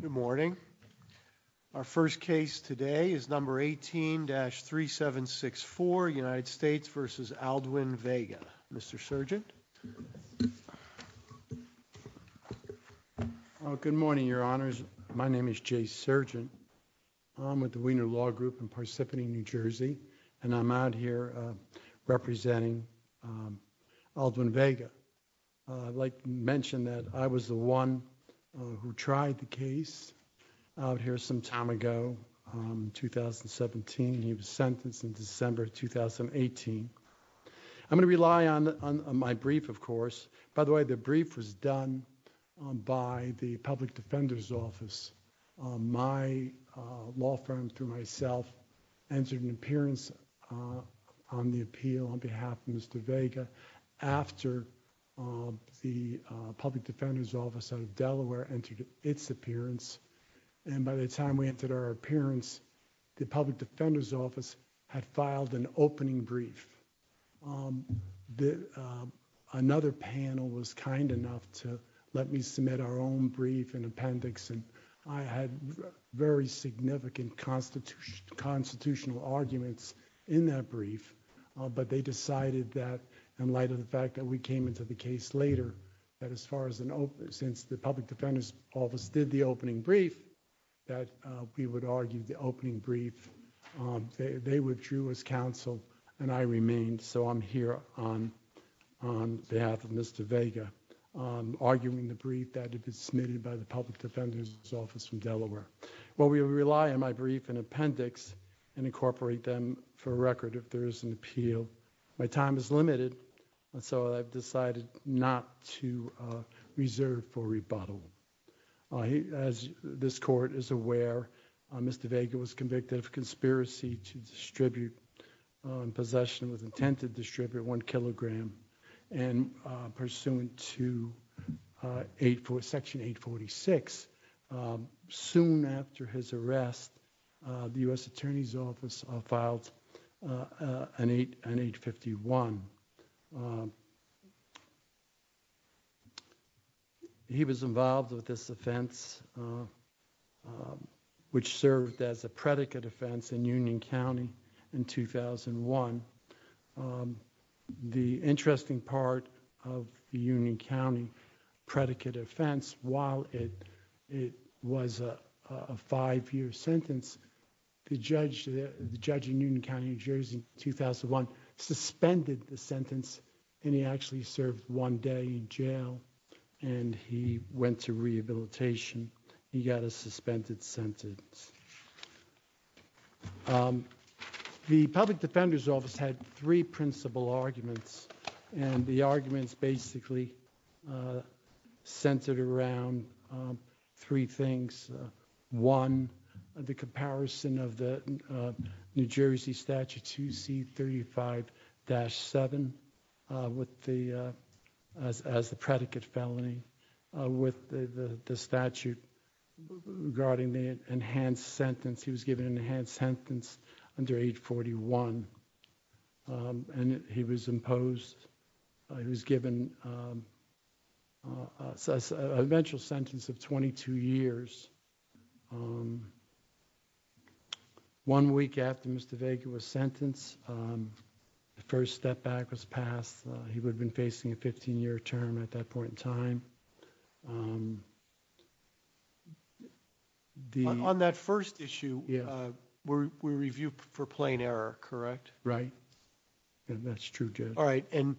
Good morning. Our first case today is number 18-3764 United States v. Aldwin Vega. Mr. Surgent. Good morning, Your Honors. My name is Jay Surgent. I'm with the Wiener Law Group in Parsippany, New Jersey, and I'm out here to try the case out here some time ago, 2017. He was sentenced in December 2018. I'm going to rely on my brief, of course. By the way, the brief was done by the Public Defender's Office. My law firm, through myself, entered an appearance on the appeal on behalf of Mr. Vega after the Public Defender's Office out of its appearance. By the time we entered our appearance, the Public Defender's Office had filed an opening brief. Another panel was kind enough to let me submit our own brief and appendix. I had very significant constitutional arguments in that brief, but they decided that in light of the fact that we did the opening brief, that we would argue the opening brief. They withdrew as counsel and I remained, so I'm here on behalf of Mr. Vega, arguing the brief that had been submitted by the Public Defender's Office from Delaware. Well, we rely on my brief and appendix and incorporate them for record if there is an appeal. My time is limited, so I've decided not to reserve for rebuttal. As this Court is aware, Mr. Vega was convicted of conspiracy to distribute possession with intent to distribute one kilogram and pursuant to Section 846. Soon after his arrest, the U.S. Attorney's Office filed an 851. He was involved with this offense, which served as a predicate offense in Union County in 2001. The interesting part of the Union County predicate offense, while it was a five-year sentence, the judge in Union County, New Jersey in the sentence, and he actually served one day in jail and he went to rehabilitation. He got a suspended sentence. The Public Defender's Office had three principal arguments and the arguments basically centered around three things. One, the as the predicate felony with the statute regarding the enhanced sentence. He was given an enhanced sentence under 841 and he was imposed, he was given an eventual sentence of 22 years. One week after Mr. Vega was sentenced, the first step back was passed. He would have been facing a 15-year term at that point in time. On that first issue, we review for plain error, correct? All right, and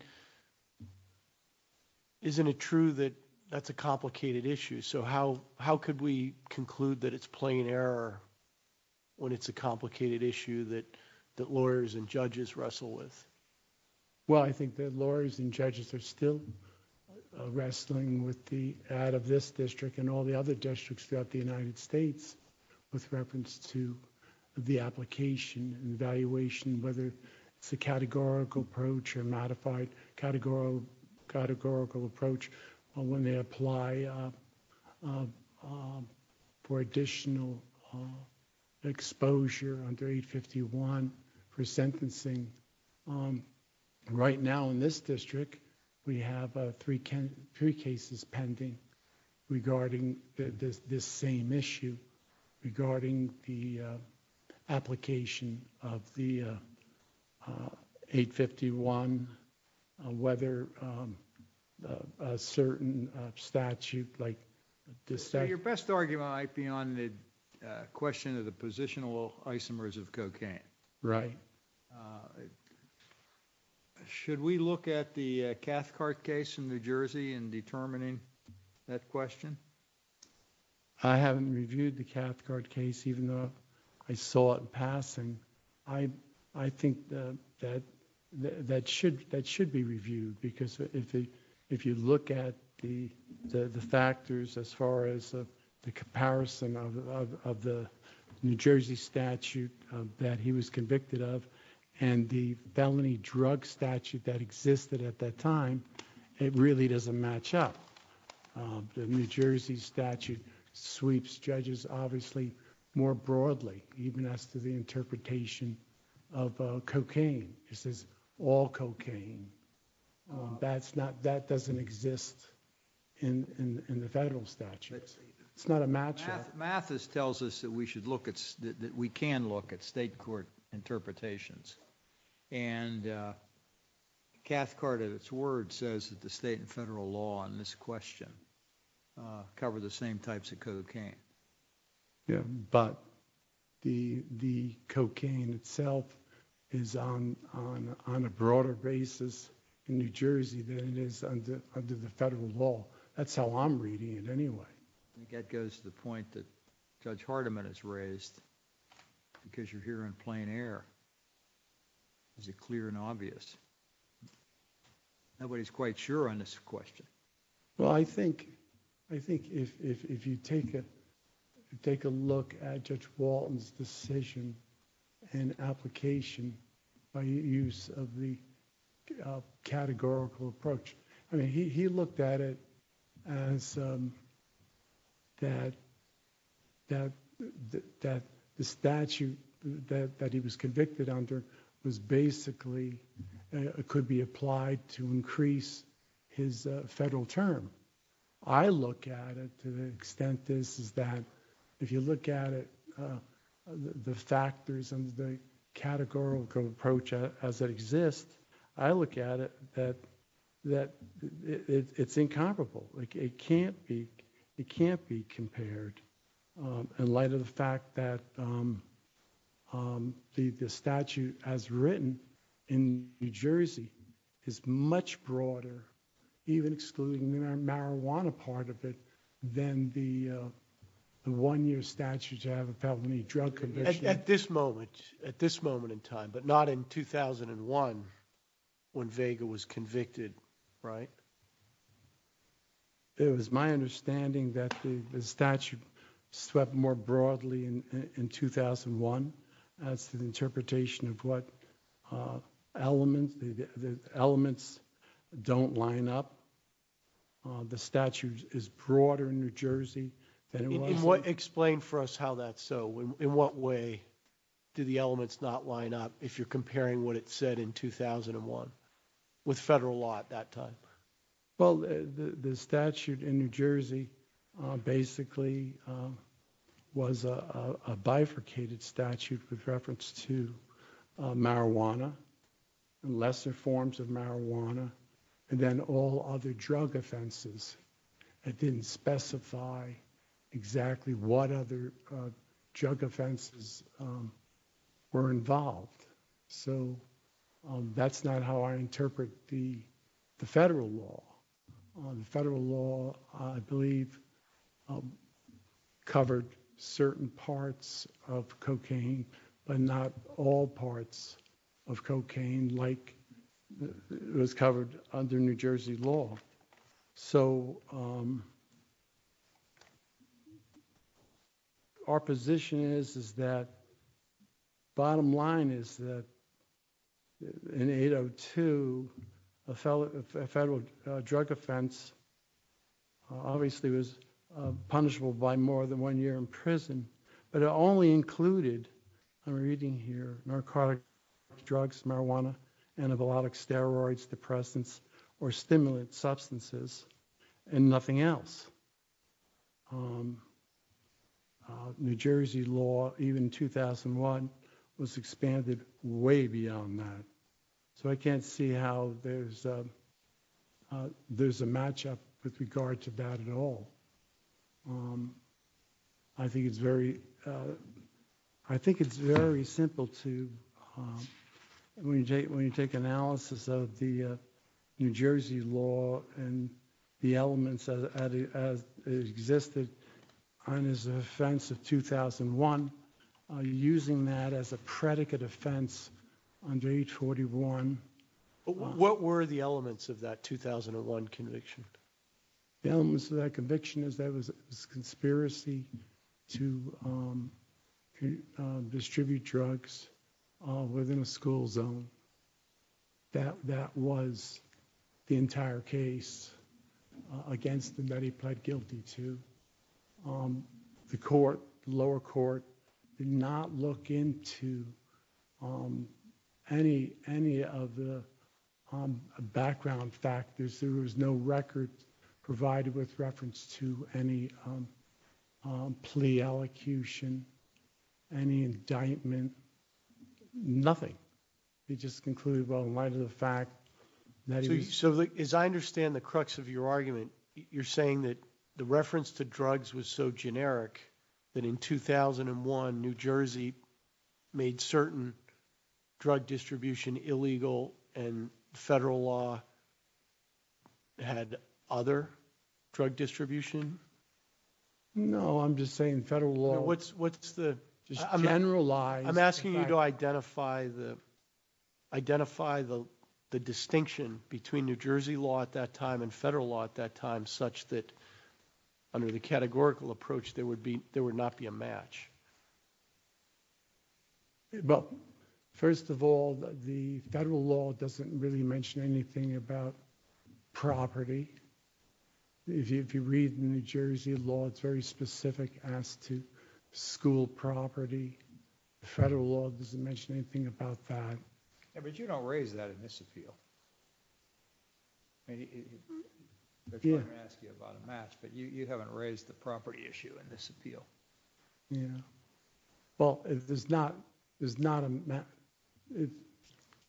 isn't it true that that's a complicated issue? So how could we conclude that it's plain error when it's a complicated issue that lawyers and judges wrestle with? Well, I think that lawyers and judges are still wrestling with the ad of this district and all the other districts throughout the United States with reference to the application and evaluation, whether it's a categorical approach or a modified categorical approach when they apply for additional exposure under 851 for sentencing. Right now in this district, we have three cases pending regarding this same issue regarding the application of the 851, whether a certain statute like this... So your best argument might be on the question of the positional isomers of cocaine. Right. Should we look at the Cathcart case in New Jersey in determining that question? I haven't reviewed the Cathcart case even though I saw it passing. I think that should be reviewed because if you look at the factors as far as the New Jersey statute that he was convicted of and the felony drug statute that existed at that time, it really doesn't match up. The New Jersey statute sweeps judges obviously more broadly, even as to the interpretation of cocaine. It says all cocaine. That doesn't exist in the federal statute. It's not a matchup. Mathis tells us that we can look at state court interpretations. And Cathcart at its word says that the state and federal law on this question cover the same types of cocaine. Yeah, but the cocaine itself is on a broader basis in New Jersey than it is under the federal law. That's how I'm reading it anyway. I think that goes to the point that Judge Hardiman has raised because you're here in plain air. Is it clear and obvious? Nobody's quite sure on this question. Well, I think if you take a look at Judge Walton's decision and application by use of the categorical approach, I mean he looked at it as that the statute that he was convicted under was basically could be applied to increase his federal term. I look at it to the extent this is that if you look at it, the factors and the categorical approach as it exists, I think it's incomparable. It can't be compared in light of the fact that the statute as written in New Jersey is much broader, even excluding the marijuana part of it, than the one-year statute to have a felony drug conviction. At this moment, at this moment in time, but not in 2001 when Vega was It was my understanding that the statute swept more broadly in 2001 as to the interpretation of what elements, the elements don't line up. The statute is broader in New Jersey. Explain for us how that's so. In what way do the elements not line up if you're comparing what it said in 2001 with The statute in New Jersey basically was a bifurcated statute with reference to marijuana and lesser forms of marijuana and then all other drug offenses. It didn't specify exactly what other drug offenses were involved, so that's not how I interpret the federal law. The federal law, I believe, covered certain parts of cocaine but not all parts of cocaine like it was covered under New Jersey law. So our position is is that bottom line is that in 802, a federal drug offense obviously was punishable by more than one year in prison, but it only included, I'm reading here, narcotic drugs, marijuana, antibiotic steroids, depressants, or stimulant substances and nothing else. New Jersey law, even 2001, was expanded way beyond that. So I can't see how there's a matchup with regard to that at all. I think it's very simple to, when you take analysis of the New Jersey law and the elements as it existed on his offense of 2001, using that as a predicate offense under 841. What were the elements of that 2001 conviction? The elements of that conviction is there was no record that was the entire case against him that he pled guilty to. The court, lower court, did not look into any of the background factors. There was no record provided with reference to any plea elocution, any indictment, nothing. He just concluded, well, in light of the fact... So as I understand the crux of your argument, you're saying that the reference to drugs was so generic that in 2001, New Jersey made certain drug distribution illegal and federal law had other drug distribution? No, I'm just saying federal law... What's the... Identify the distinction between New Jersey law at that time and federal law at that time such that under the categorical approach there would be, there would not be a match. Well, first of all, the federal law doesn't really mention anything about property. If you read the New Jersey law, it's very specific as to school property. The federal law doesn't mention anything about that. Yeah, but you don't raise that in this appeal. You haven't raised the property issue in this appeal. Yeah, well, there's not, there's not a...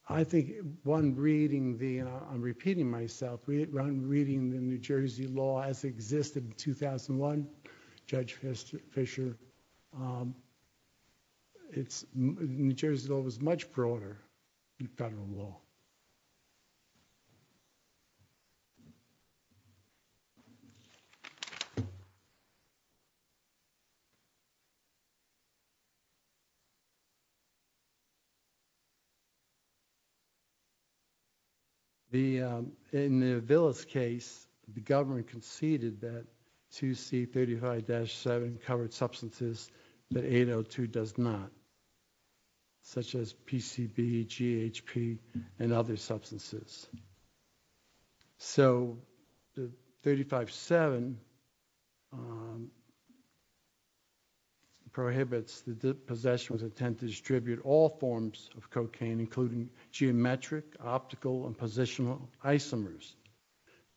I think one reading the, I'm repeating myself, one reading the New Jersey law as existed in 2001, Judge Fisher, it's, New Jersey law was much broader than federal law. In the Villa's case, the government conceded that 2C35-7 covered substances that 802 does not, such as PCB, GHP, and other substances. So the 35-7 prohibits the possession with intent to distribute all forms of cocaine, including geometric, optical, and positional isomers.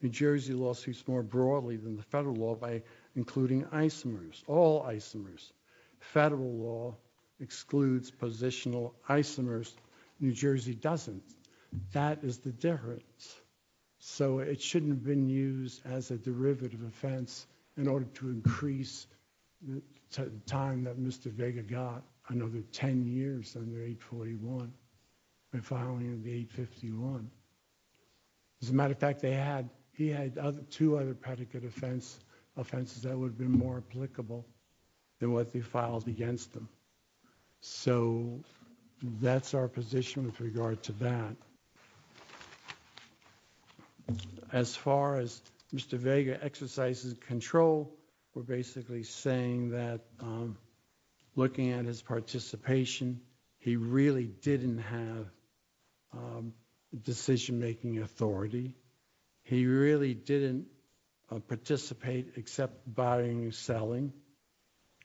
New Jersey law speaks more broadly than the federal law by including isomers, all isomers. Federal law excludes positional isomers. New Jersey law does not exclude positional isomers. Federal law does not exclude positional isomers. So, that is the difference. So, it shouldn't have been used as a derivative offense in order to increase the time that Mr. Vega got another 10 years under what they filed against him. So, that's our position with regard to that. As far as Mr. Vega exercises control, we're basically saying that looking at his participation, he really didn't have decision-making authority. He really didn't participate except buying and selling.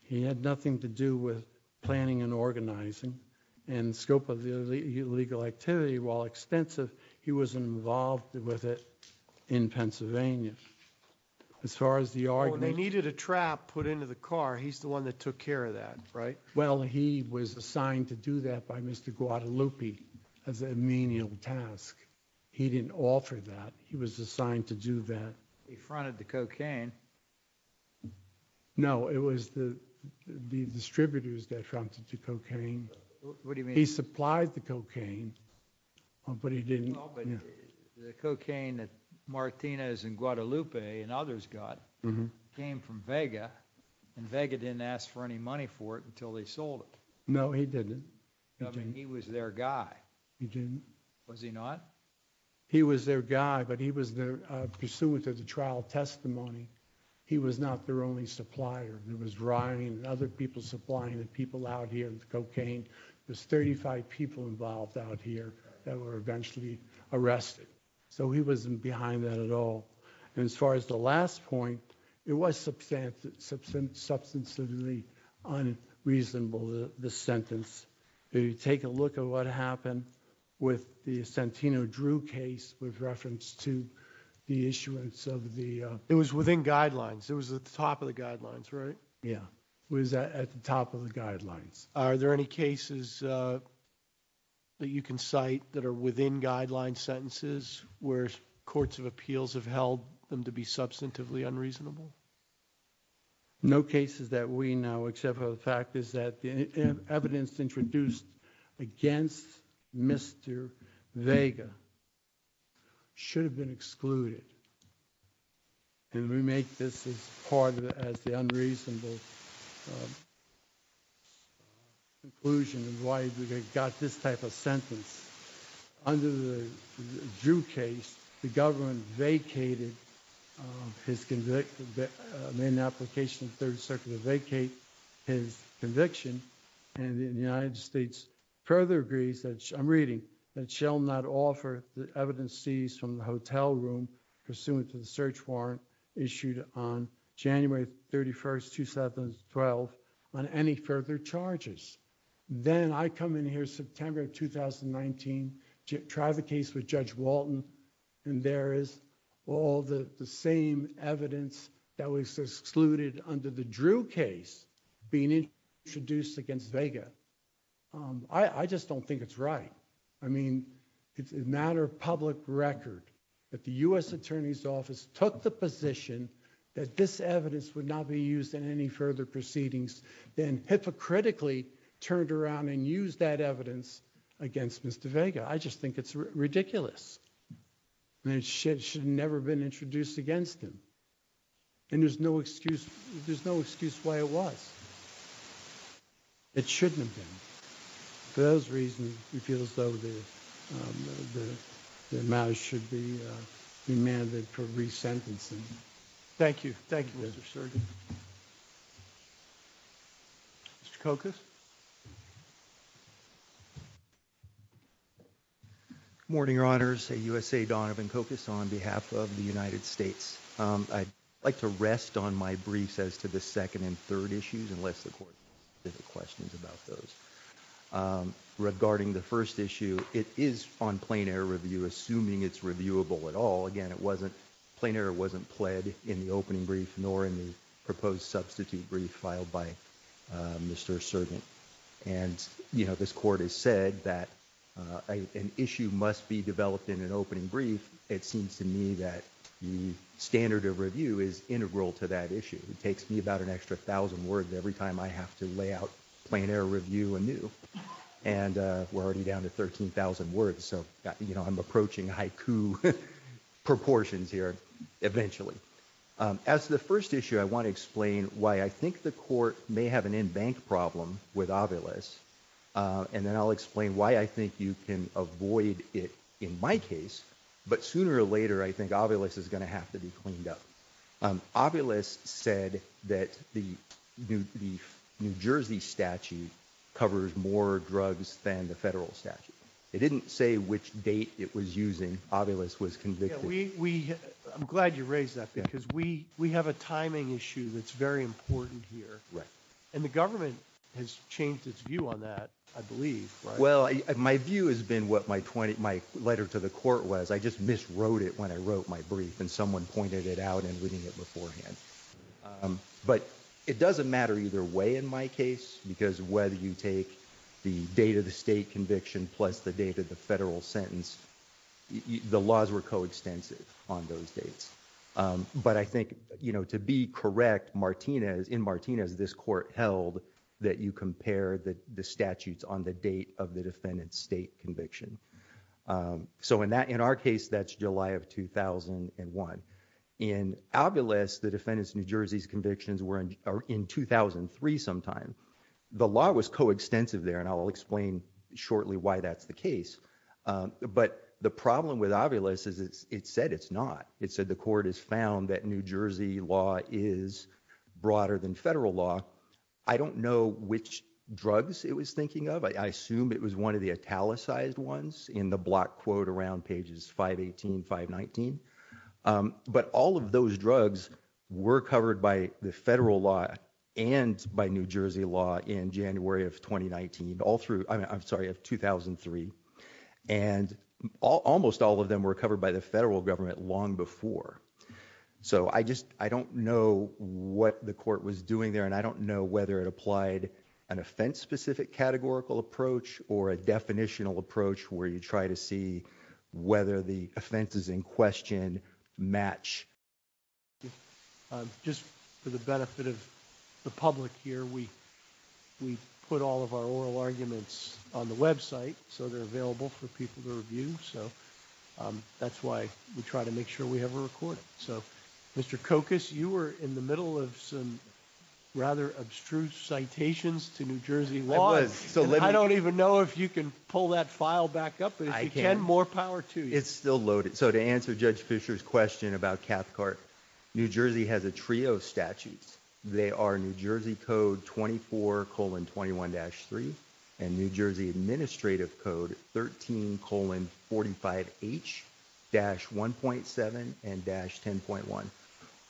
He had nothing to do with planning and organizing. In the scope of the illegal activity, while extensive, he was involved with it in Pennsylvania. As far as the argument... When they needed a trap put into the car, he's the one that took care of that, right? Well, he was assigned to do that by Mr. Guadalupe as a menial task. He didn't offer that. He was assigned to do that. He fronted the cocaine. No, it was the distributors that fronted the cocaine. What do you mean? He supplied the cocaine, but he didn't... The cocaine that Martinez and Guadalupe and others got came from Vega, and Vega didn't ask for any money for it until they sold it. No, he didn't. I mean, he was their guy. He didn't. Was he not? He was their guy, but he was pursuant to the trial testimony. He was not their only supplier. There was Ryan and other people supplying the people out here with cocaine. There's 35 people involved out here that were eventually arrested, so he wasn't behind that at all. As far as the last point, it was substantively unreasonable, the sentence. If you take a look at what drew case with reference to the issuance of the... It was within guidelines. It was at the top of the guidelines, right? Yeah, it was at the top of the guidelines. Are there any cases that you can cite that are within guideline sentences where courts of appeals have held them to be substantively unreasonable? No cases that we know except for the fact is that the evidence introduced against Mr. Vega should have been excluded, and we make this as part of as the unreasonable conclusion of why they got this type of sentence. Under the Drew case, the government vacated his conviction, made an application in the Third Circuit to vacate his conviction, and the United States further agrees that... I'm reading... that shall not offer the evidence seized from the hotel room pursuant to the search warrant issued on January 31st, 2012 on any further charges. Then I come in here September of 2019, try the case with Judge Walton, and there is all the I just don't think it's right. I mean, it's a matter of public record that the U.S. Attorney's Office took the position that this evidence would not be used in any further proceedings, then hypocritically turned around and used that evidence against Mr. Vega. I just think it's ridiculous. It should have never been introduced against him, and there's no excuse why it was. It shouldn't have been. For those reasons, it feels though that the matter should be demanded for re-sentencing. Thank you. Thank you, Mr. Surgin. Mr. Kokas? Good morning, Your Honors. USA Donovan Kokas on behalf of the United States. I'd like to rest on my briefs as to the second and third issues, unless the Court has any questions about those. Regarding the first issue, it is on plain-error review, assuming it's reviewable at all. Again, plain-error wasn't pled in the opening brief, nor in the proposed substitute brief filed by Mr. Surgin. And this Court has said that an issue must be developed in an opening brief. It seems to me that the standard of review is integral to that issue. It takes me about an extra thousand words every time I have to lay out plain-error review anew, and we're already down to 13,000 words. So, you know, I'm approaching haiku proportions here eventually. As the first issue, I want to explain why I think the Court may have an in-bank problem with Ovilus, and then explain why I think you can avoid it in my case. But sooner or later, I think Ovilus is going to have to be cleaned up. Ovilus said that the New Jersey statute covers more drugs than the federal statute. It didn't say which date it was using. Ovilus was convicted. I'm glad you raised that, because we have a timing issue that's very important here. And the government has changed its view on that, I believe. Well, my view has been what my letter to the Court was. I just miswrote it when I wrote my brief, and someone pointed it out and reading it beforehand. But it doesn't matter either way in my case, because whether you take the date of the state conviction plus the date of the federal sentence, the laws were coextensive on those dates. But I that you compare the statutes on the date of the defendant's state conviction. So in our case, that's July of 2001. In Ovilus, the defendant's New Jersey convictions were in 2003 sometime. The law was coextensive there, and I'll explain shortly why that's the case. But the problem with Ovilus is it said it's not. It said the Court has found that New Jersey law is broader than federal law. I don't know which drugs it was thinking of. I assume it was one of the italicized ones in the block quote around pages 518, 519. But all of those drugs were covered by the federal law and by New Jersey law in January of 2019, all through, I'm sorry, of 2003. And almost all of them were covered by the federal government long before. So I just, I don't know what the Court was doing there, and I don't know whether it applied an offense-specific categorical approach or a definitional approach where you try to see whether the offenses in question match. Just for the benefit of the public here, we put all of our oral arguments on the website, so they're available for people to review. So that's why we try to make sure we have a recording. So, Mr. Kokos, you were in the middle of some rather abstruse citations to New Jersey law. I don't even know if you can pull that file back up, but if you can, more power to you. It's still loaded. So to answer Judge Fischer's question about Cathcart, New Jersey has a trio of statutes. They are New Jersey Code 24 colon 21-3 and New Jersey Administrative Code 13 colon 45H-1.7 and dash 10.1.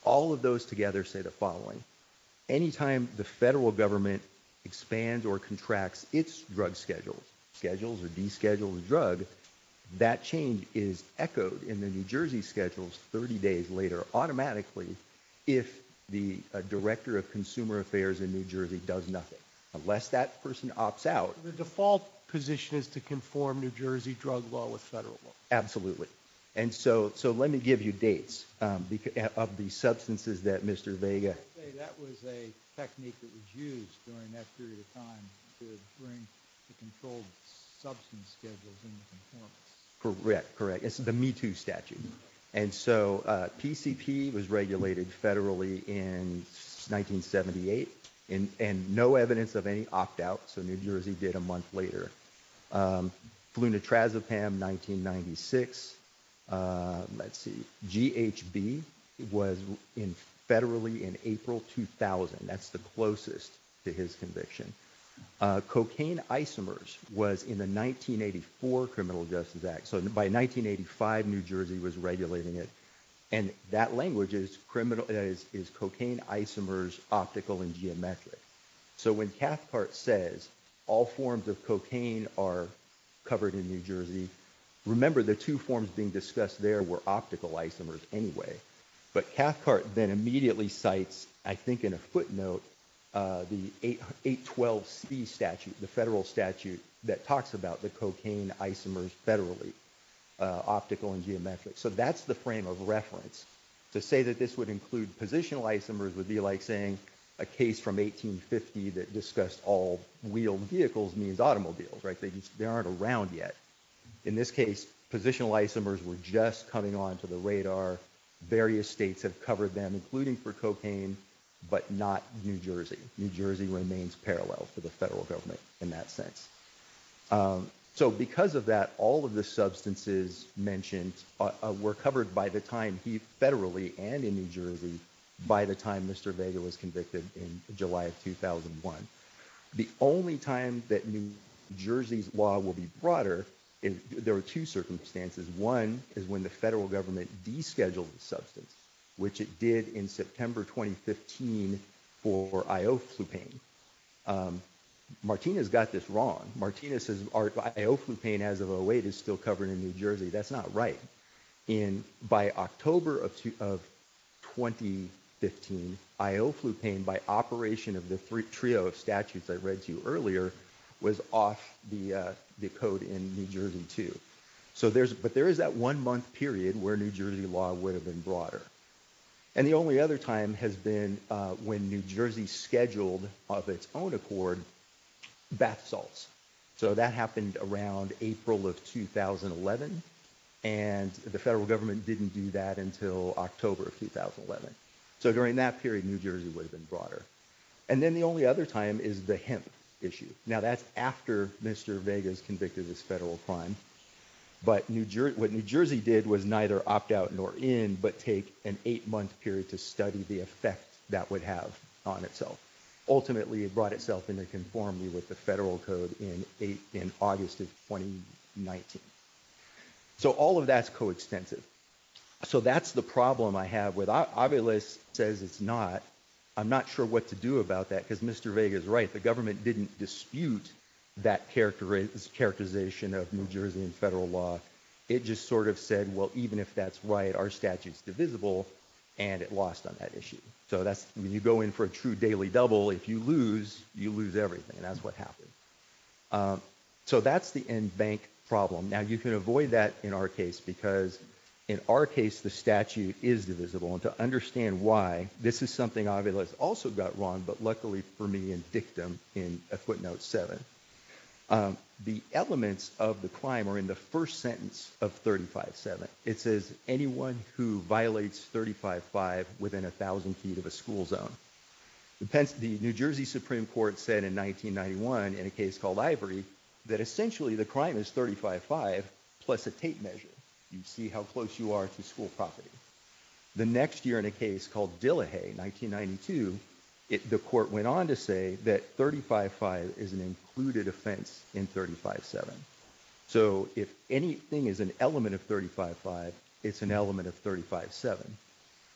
All of those together say the following. Any time the federal government expands or contracts its drug schedules, schedules or deschedules a drug, that change is echoed in the New Jersey schedules 30 days later automatically if the Director of Consumer Affairs in New Jersey does nothing. Unless that person opts out. The default position is to conform New Jersey drug law with federal law. Absolutely. And so let me give you dates of the substances that Mr. Vega... That was a technique that was used during that period of time to bring the controlled substance schedules into conformance. Correct. Correct. It's the Me Too statute. And so PCP was regulated federally in 1978 and no evidence of any opt out. So New Jersey did a month later. Flunitrazepam 1996. Let's see. GHB was in federally in April 2000. That's the closest to his conviction. Cocaine isomers was in the 1984 Criminal Justice Act. So by 1985, New Jersey was regulating it. And that language is cocaine isomers, optical and geometric. So when Cathcart says all forms of cocaine are covered in New Jersey, remember the two forms being discussed there were optical isomers anyway. But Cathcart then immediately cites, I think in a footnote, the 812C statute, the federal statute that talks about the cocaine isomers federally, optical and geometric. So that's the frame of reference. To say that this would include positional isomers would be like saying a case from 1850 that discussed all wheeled vehicles means automobiles, right? They aren't around yet. In this case, positional isomers were just coming onto the radar. Various states have covered them, including for cocaine, but not New Jersey. New Jersey remains parallel to the federal government in that sense. So because of that, all of the substances mentioned were covered by the time he federally and in New Jersey by the time Mr. Vega was convicted in July of 2001. The only time that New Jersey's law will be broader, there are two circumstances. One is when the federal government descheduled the substance, which it did in September 2015 for Ioflupane. Martina's got this wrong. Martina says our Ioflupane as of 08 is still covered in New Jersey. That's not right. By October of 2015, Ioflupane by operation of the trio of statutes I read to you earlier was off the code in New Jersey too. But there is that one month period where New Jersey law would have been broader. And the only other time has been when New Jersey scheduled of its own accord bath salts. So that happened around April of 2011, and the federal government didn't do that until October of 2011. So during that period, New Jersey would have been broader. And then the only other time is the hemp issue. Now that's Mr. Vega's convicted as federal crime. But what New Jersey did was neither opt out nor in, but take an eight month period to study the effect that would have on itself. Ultimately, it brought itself into conformity with the federal code in August of 2019. So all of that's coextensive. So that's the problem I have with Obvious says it's not. I'm not sure what to do about that because Mr. Vega is right. The government didn't dispute that characterization of New Jersey and federal law. It just sort of said, well, even if that's right, our statute's divisible and it lost on that issue. So that's when you go in for a true daily double, if you lose, you lose everything. And that's what happened. So that's the end bank problem. Now you can avoid that in our case, because in our case, the statute is divisible. And to understand why this is something Obvious also got wrong, but luckily for me and dictum in a footnote seven, the elements of the crime are in the first sentence of thirty five seven. It says anyone who violates thirty five five within a thousand feet of a school zone. The New Jersey Supreme Court said in 1991 in a case called Ivory that essentially the crime is thirty five five plus a tape measure. You see how close you are to school property. The next year in a case called Dillehay, 1992, the court went on to say that thirty five five is an included offense in thirty five seven. So if anything is an element of thirty five five, it's an element of thirty five seven.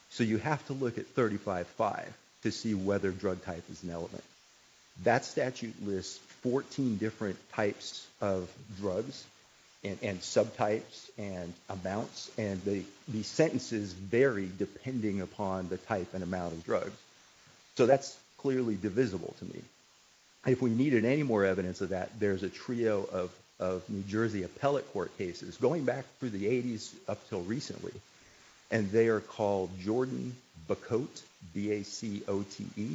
So you have to look at thirty five five to see whether drug type is an element. That statute lists 14 different types of drugs and subtypes and amounts. And the sentences vary depending upon the type and amount of drugs. So that's clearly divisible to me. If we needed any more evidence of that, there's a trio of of New Jersey appellate court cases going back through the 80s up till recently. And they are called Jordan Bacote, B-A-C-O-T-E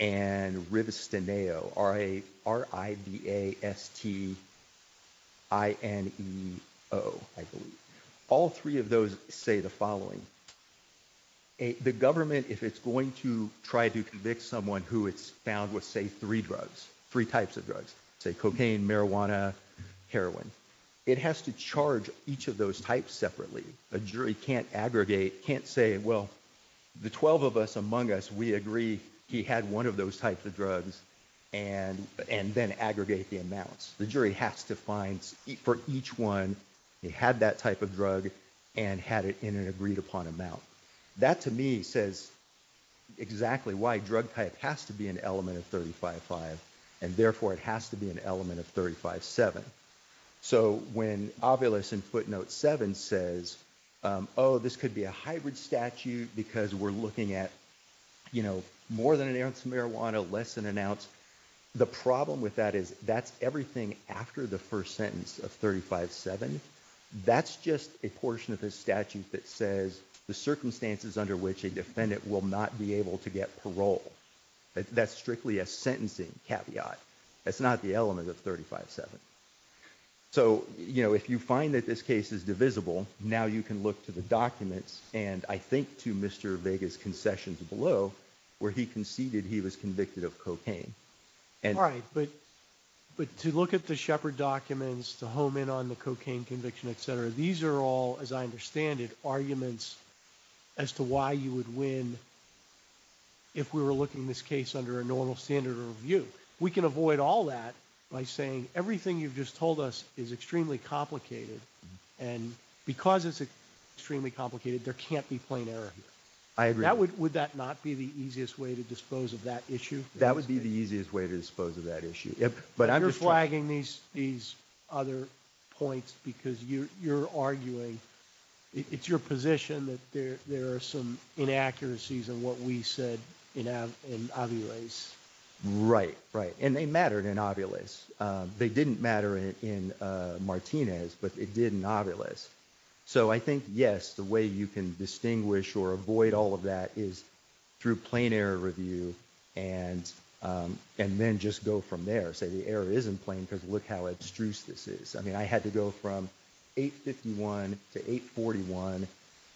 and Rivestineo, R-I-V-E-S-T-I-N-E-O, I believe. All three of those say the following. The government, if it's going to try to convict someone who it's found with, say, three drugs, three types of drugs, say cocaine, marijuana, heroin, it has to charge each of those types separately. A jury can't aggregate, can't say, well, the 12 of us among us, we agree he had one of those types of drugs and then aggregate the amounts. The jury has to find for each one, he had that type of drug and had it in an agreed upon amount. That, to me, says exactly why drug type has to be an element of 35-5 and therefore it has to be an element of 35-7. So when Ovilus in footnote 7 says, oh, this could be a hybrid statute because we're looking at, you know, more than an ounce of marijuana, less than an ounce, the problem with that is that's everything after the first sentence of 35-7. That's just a portion of this statute that says the circumstances under which a defendant will not be able to get parole. That's strictly a sentencing caveat. That's not the element of 35-7. So, you know, if you find that this case is divisible, now you can to the documents and I think to Mr. Vega's concessions below where he conceded he was convicted of cocaine. All right, but to look at the Shepard documents, to home in on the cocaine conviction, etc., these are all, as I understand it, arguments as to why you would win if we were looking at this case under a normal standard of review. We can avoid all that by saying everything you've just told us is extremely complicated and because it's extremely complicated, there can't be plain error. I agree. Would that not be the easiest way to dispose of that issue? That would be the easiest way to dispose of that issue. But you're flagging these other points because you're arguing, it's your position that there are some inaccuracies in what we said in Ovilus. Right, right. And they mattered in Ovilus. They didn't matter in Martinez, but it did in Ovilus. So, I think, yes, the way you can distinguish or avoid all of that is through plain error review and then just go from there. Say the error isn't plain because look how abstruse this is. I mean, I had to go from 851 to 841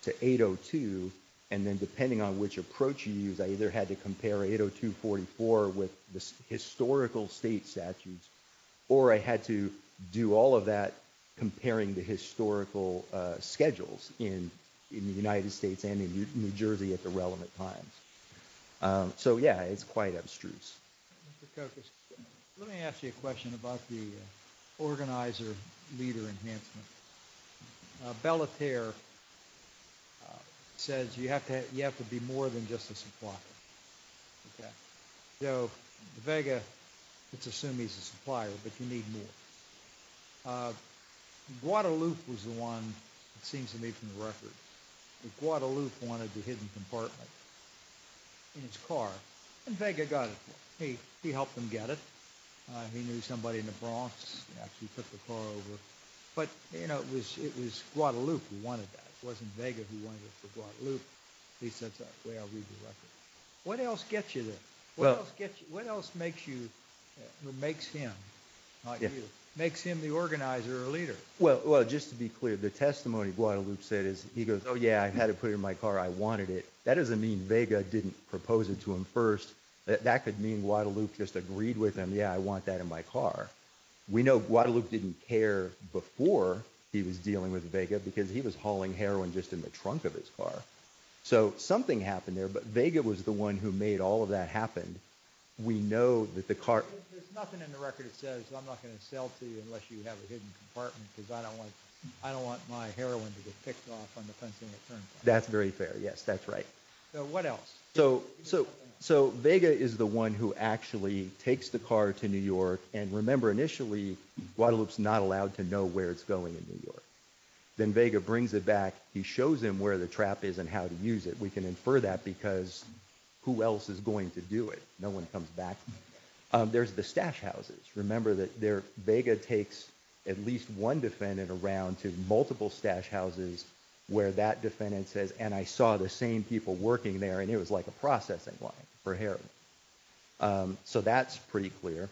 to 802 and then depending on which approach you use, I either had to compare 802-44 with the historical state statutes or I had to do all of that comparing the historical schedules in the United States and in New Jersey at the relevant times. So, yeah, it's quite abstruse. Let me ask you a question about the organizer leader enhancement. Bella Terre says you have to be more than just a supplier. So, Vega, let's assume he's a supplier, but you need more. Guadalupe was the one, it seems to me from the record, that Guadalupe wanted the hidden compartment in his car and Vega got it for him. He helped him get it. He knew somebody in the Bronx, actually took the car over. But, you know, it was Guadalupe who wanted that. It wasn't Vega who wanted it for Guadalupe. At least that's the way I read the record. What else gets you there? What else makes him the organizer or leader? Well, just to be clear, the testimony Guadalupe said is he goes, oh yeah, I had to put it in my car. I wanted it. That doesn't mean Vega didn't propose it to him first. That could mean Guadalupe just agreed with him, yeah, I want that in my car. We know Guadalupe didn't care before he was dealing with Vega because he was hauling heroin just in the trunk of his car. So, something happened there, but Vega was the one who made all of that happen. We know that the car… There's nothing in the record that says I'm not going to sell to you unless you have a hidden compartment because I don't want my heroin to get picked off on the fencing at Turnpike. That's very fair, yes, that's right. So, what else? So, Vega is the one who actually takes the car to New York and remember initially Guadalupe's not allowed to know where it's going in New York. Then Vega brings it back. He shows him where the trap is and how to use it. We can infer that because who else is going to do it? No one comes back. There's the stash houses. Remember that Vega takes at least one defendant around to multiple stash houses where that defendant says, and I saw the same people working there and it was like a processing line for heroin. So, that's pretty clear.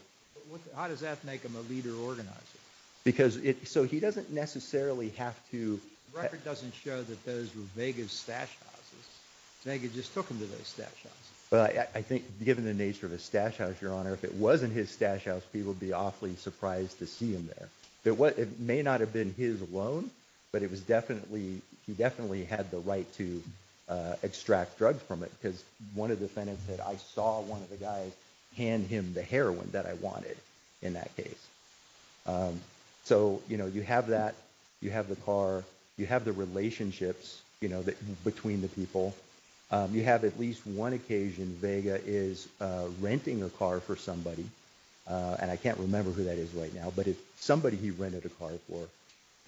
How does that make him a leader organizer? Because it… So, he doesn't necessarily have to… The record doesn't show that those were Vega's stash houses. Vega just took him to those stash houses. Well, I think given the nature of his stash house, Your Honor, if it wasn't his stash house, people would be awfully surprised to see him there. It may not have been his alone, but it was definitely… He definitely had the right to extract drugs from it because one of the defendants said, I saw one of the guys hand him the heroin that I wanted in that case. So, you know, you have that. You have the car. You have the relationships, you know, between the people. You have at least one occasion Vega is somebody he rented a car for.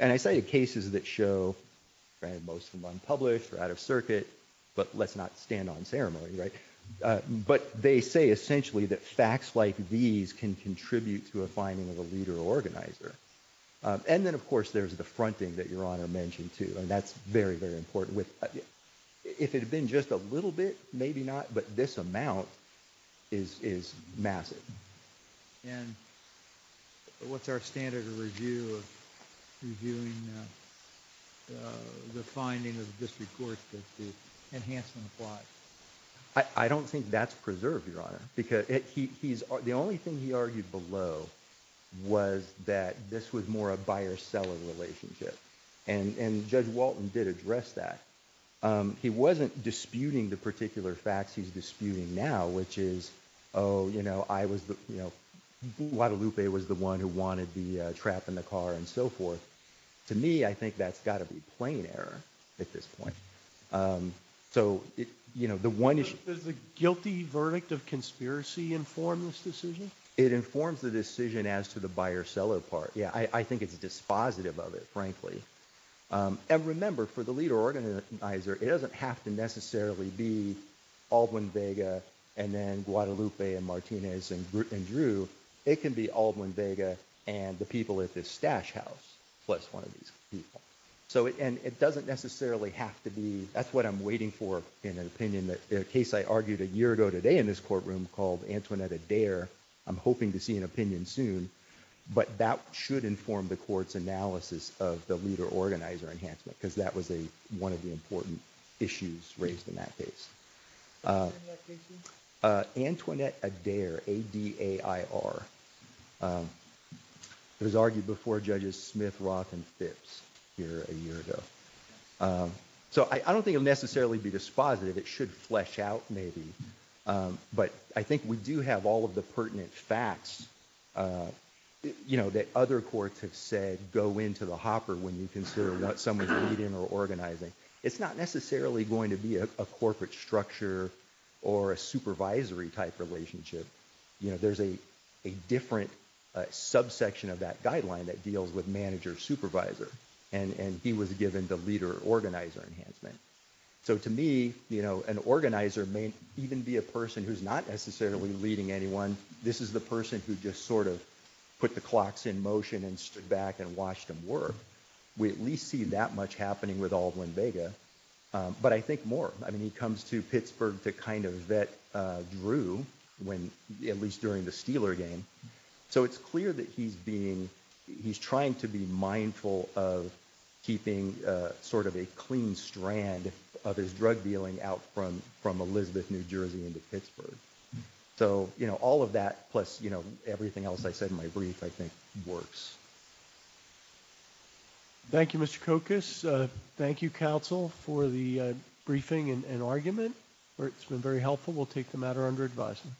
And I cited cases that show, most of them unpublished or out of circuit, but let's not stand on ceremony, right? But they say essentially that facts like these can contribute to a finding of a leader organizer. And then, of course, there's the fronting that Your Honor mentioned too, and that's very, very important. If it had been just a little bit, maybe not, but this amount is massive. And what's our standard of review of reviewing the finding of the district court that the enhancement applies? I don't think that's preserved, Your Honor, because the only thing he argued below was that this was more a buyer-seller relationship. And Judge Walton did address that. He wasn't disputing the particular facts he's disputing now, which is, oh, you know, Guadalupe was the one who wanted the trap in the car and so forth. To me, I think that's got to be plain error at this point. So, you know, the one issue Does the guilty verdict of conspiracy inform this decision? It informs the decision as to the buyer-seller part. Yeah, I think it's dispositive of it, frankly. And remember, for the leader organizer, it doesn't have to necessarily be Aldwin Vega and then Guadalupe and Martinez and Drew. It can be Aldwin Vega and the people at this stash house plus one of these people. So, and it doesn't necessarily have to be, that's what I'm waiting for in an opinion that a case I argued a year ago today in this courtroom called Antoinette Adair. I'm hoping to see an opinion soon, but that should inform the court's analysis of the leader organizer enhancement because that was a one of the important issues raised in that case. Antoinette Adair, A-D-A-I-R. It was argued before judges Smith, Roth, and Phipps here a year ago. So I don't think it'll necessarily be dispositive. It should flesh out maybe. But I think we do have all of the pertinent facts that other courts have said go into the hopper when you consider what someone's leading or organizing. It's not necessarily going to be a corporate structure or a supervisory type relationship. There's a different subsection of that guideline that deals with manager supervisor and he was given the leader organizer enhancement. So to me, you know, an organizer may even be a person who's not necessarily leading anyone. This is the person who just sort of put the clocks in motion and stood back and watched them work. We at least see that much happening with Aldwin Vega. But I think more, I mean, he comes to Pittsburgh to kind of vet Drew when, at least during the keeping sort of a clean strand of his drug dealing out from Elizabeth, New Jersey into Pittsburgh. So, you know, all of that plus, you know, everything else I said in my brief, I think works. Thank you, Mr. Kokas. Thank you, counsel, for the briefing and argument. It's been very helpful. We'll take the matter under advisement.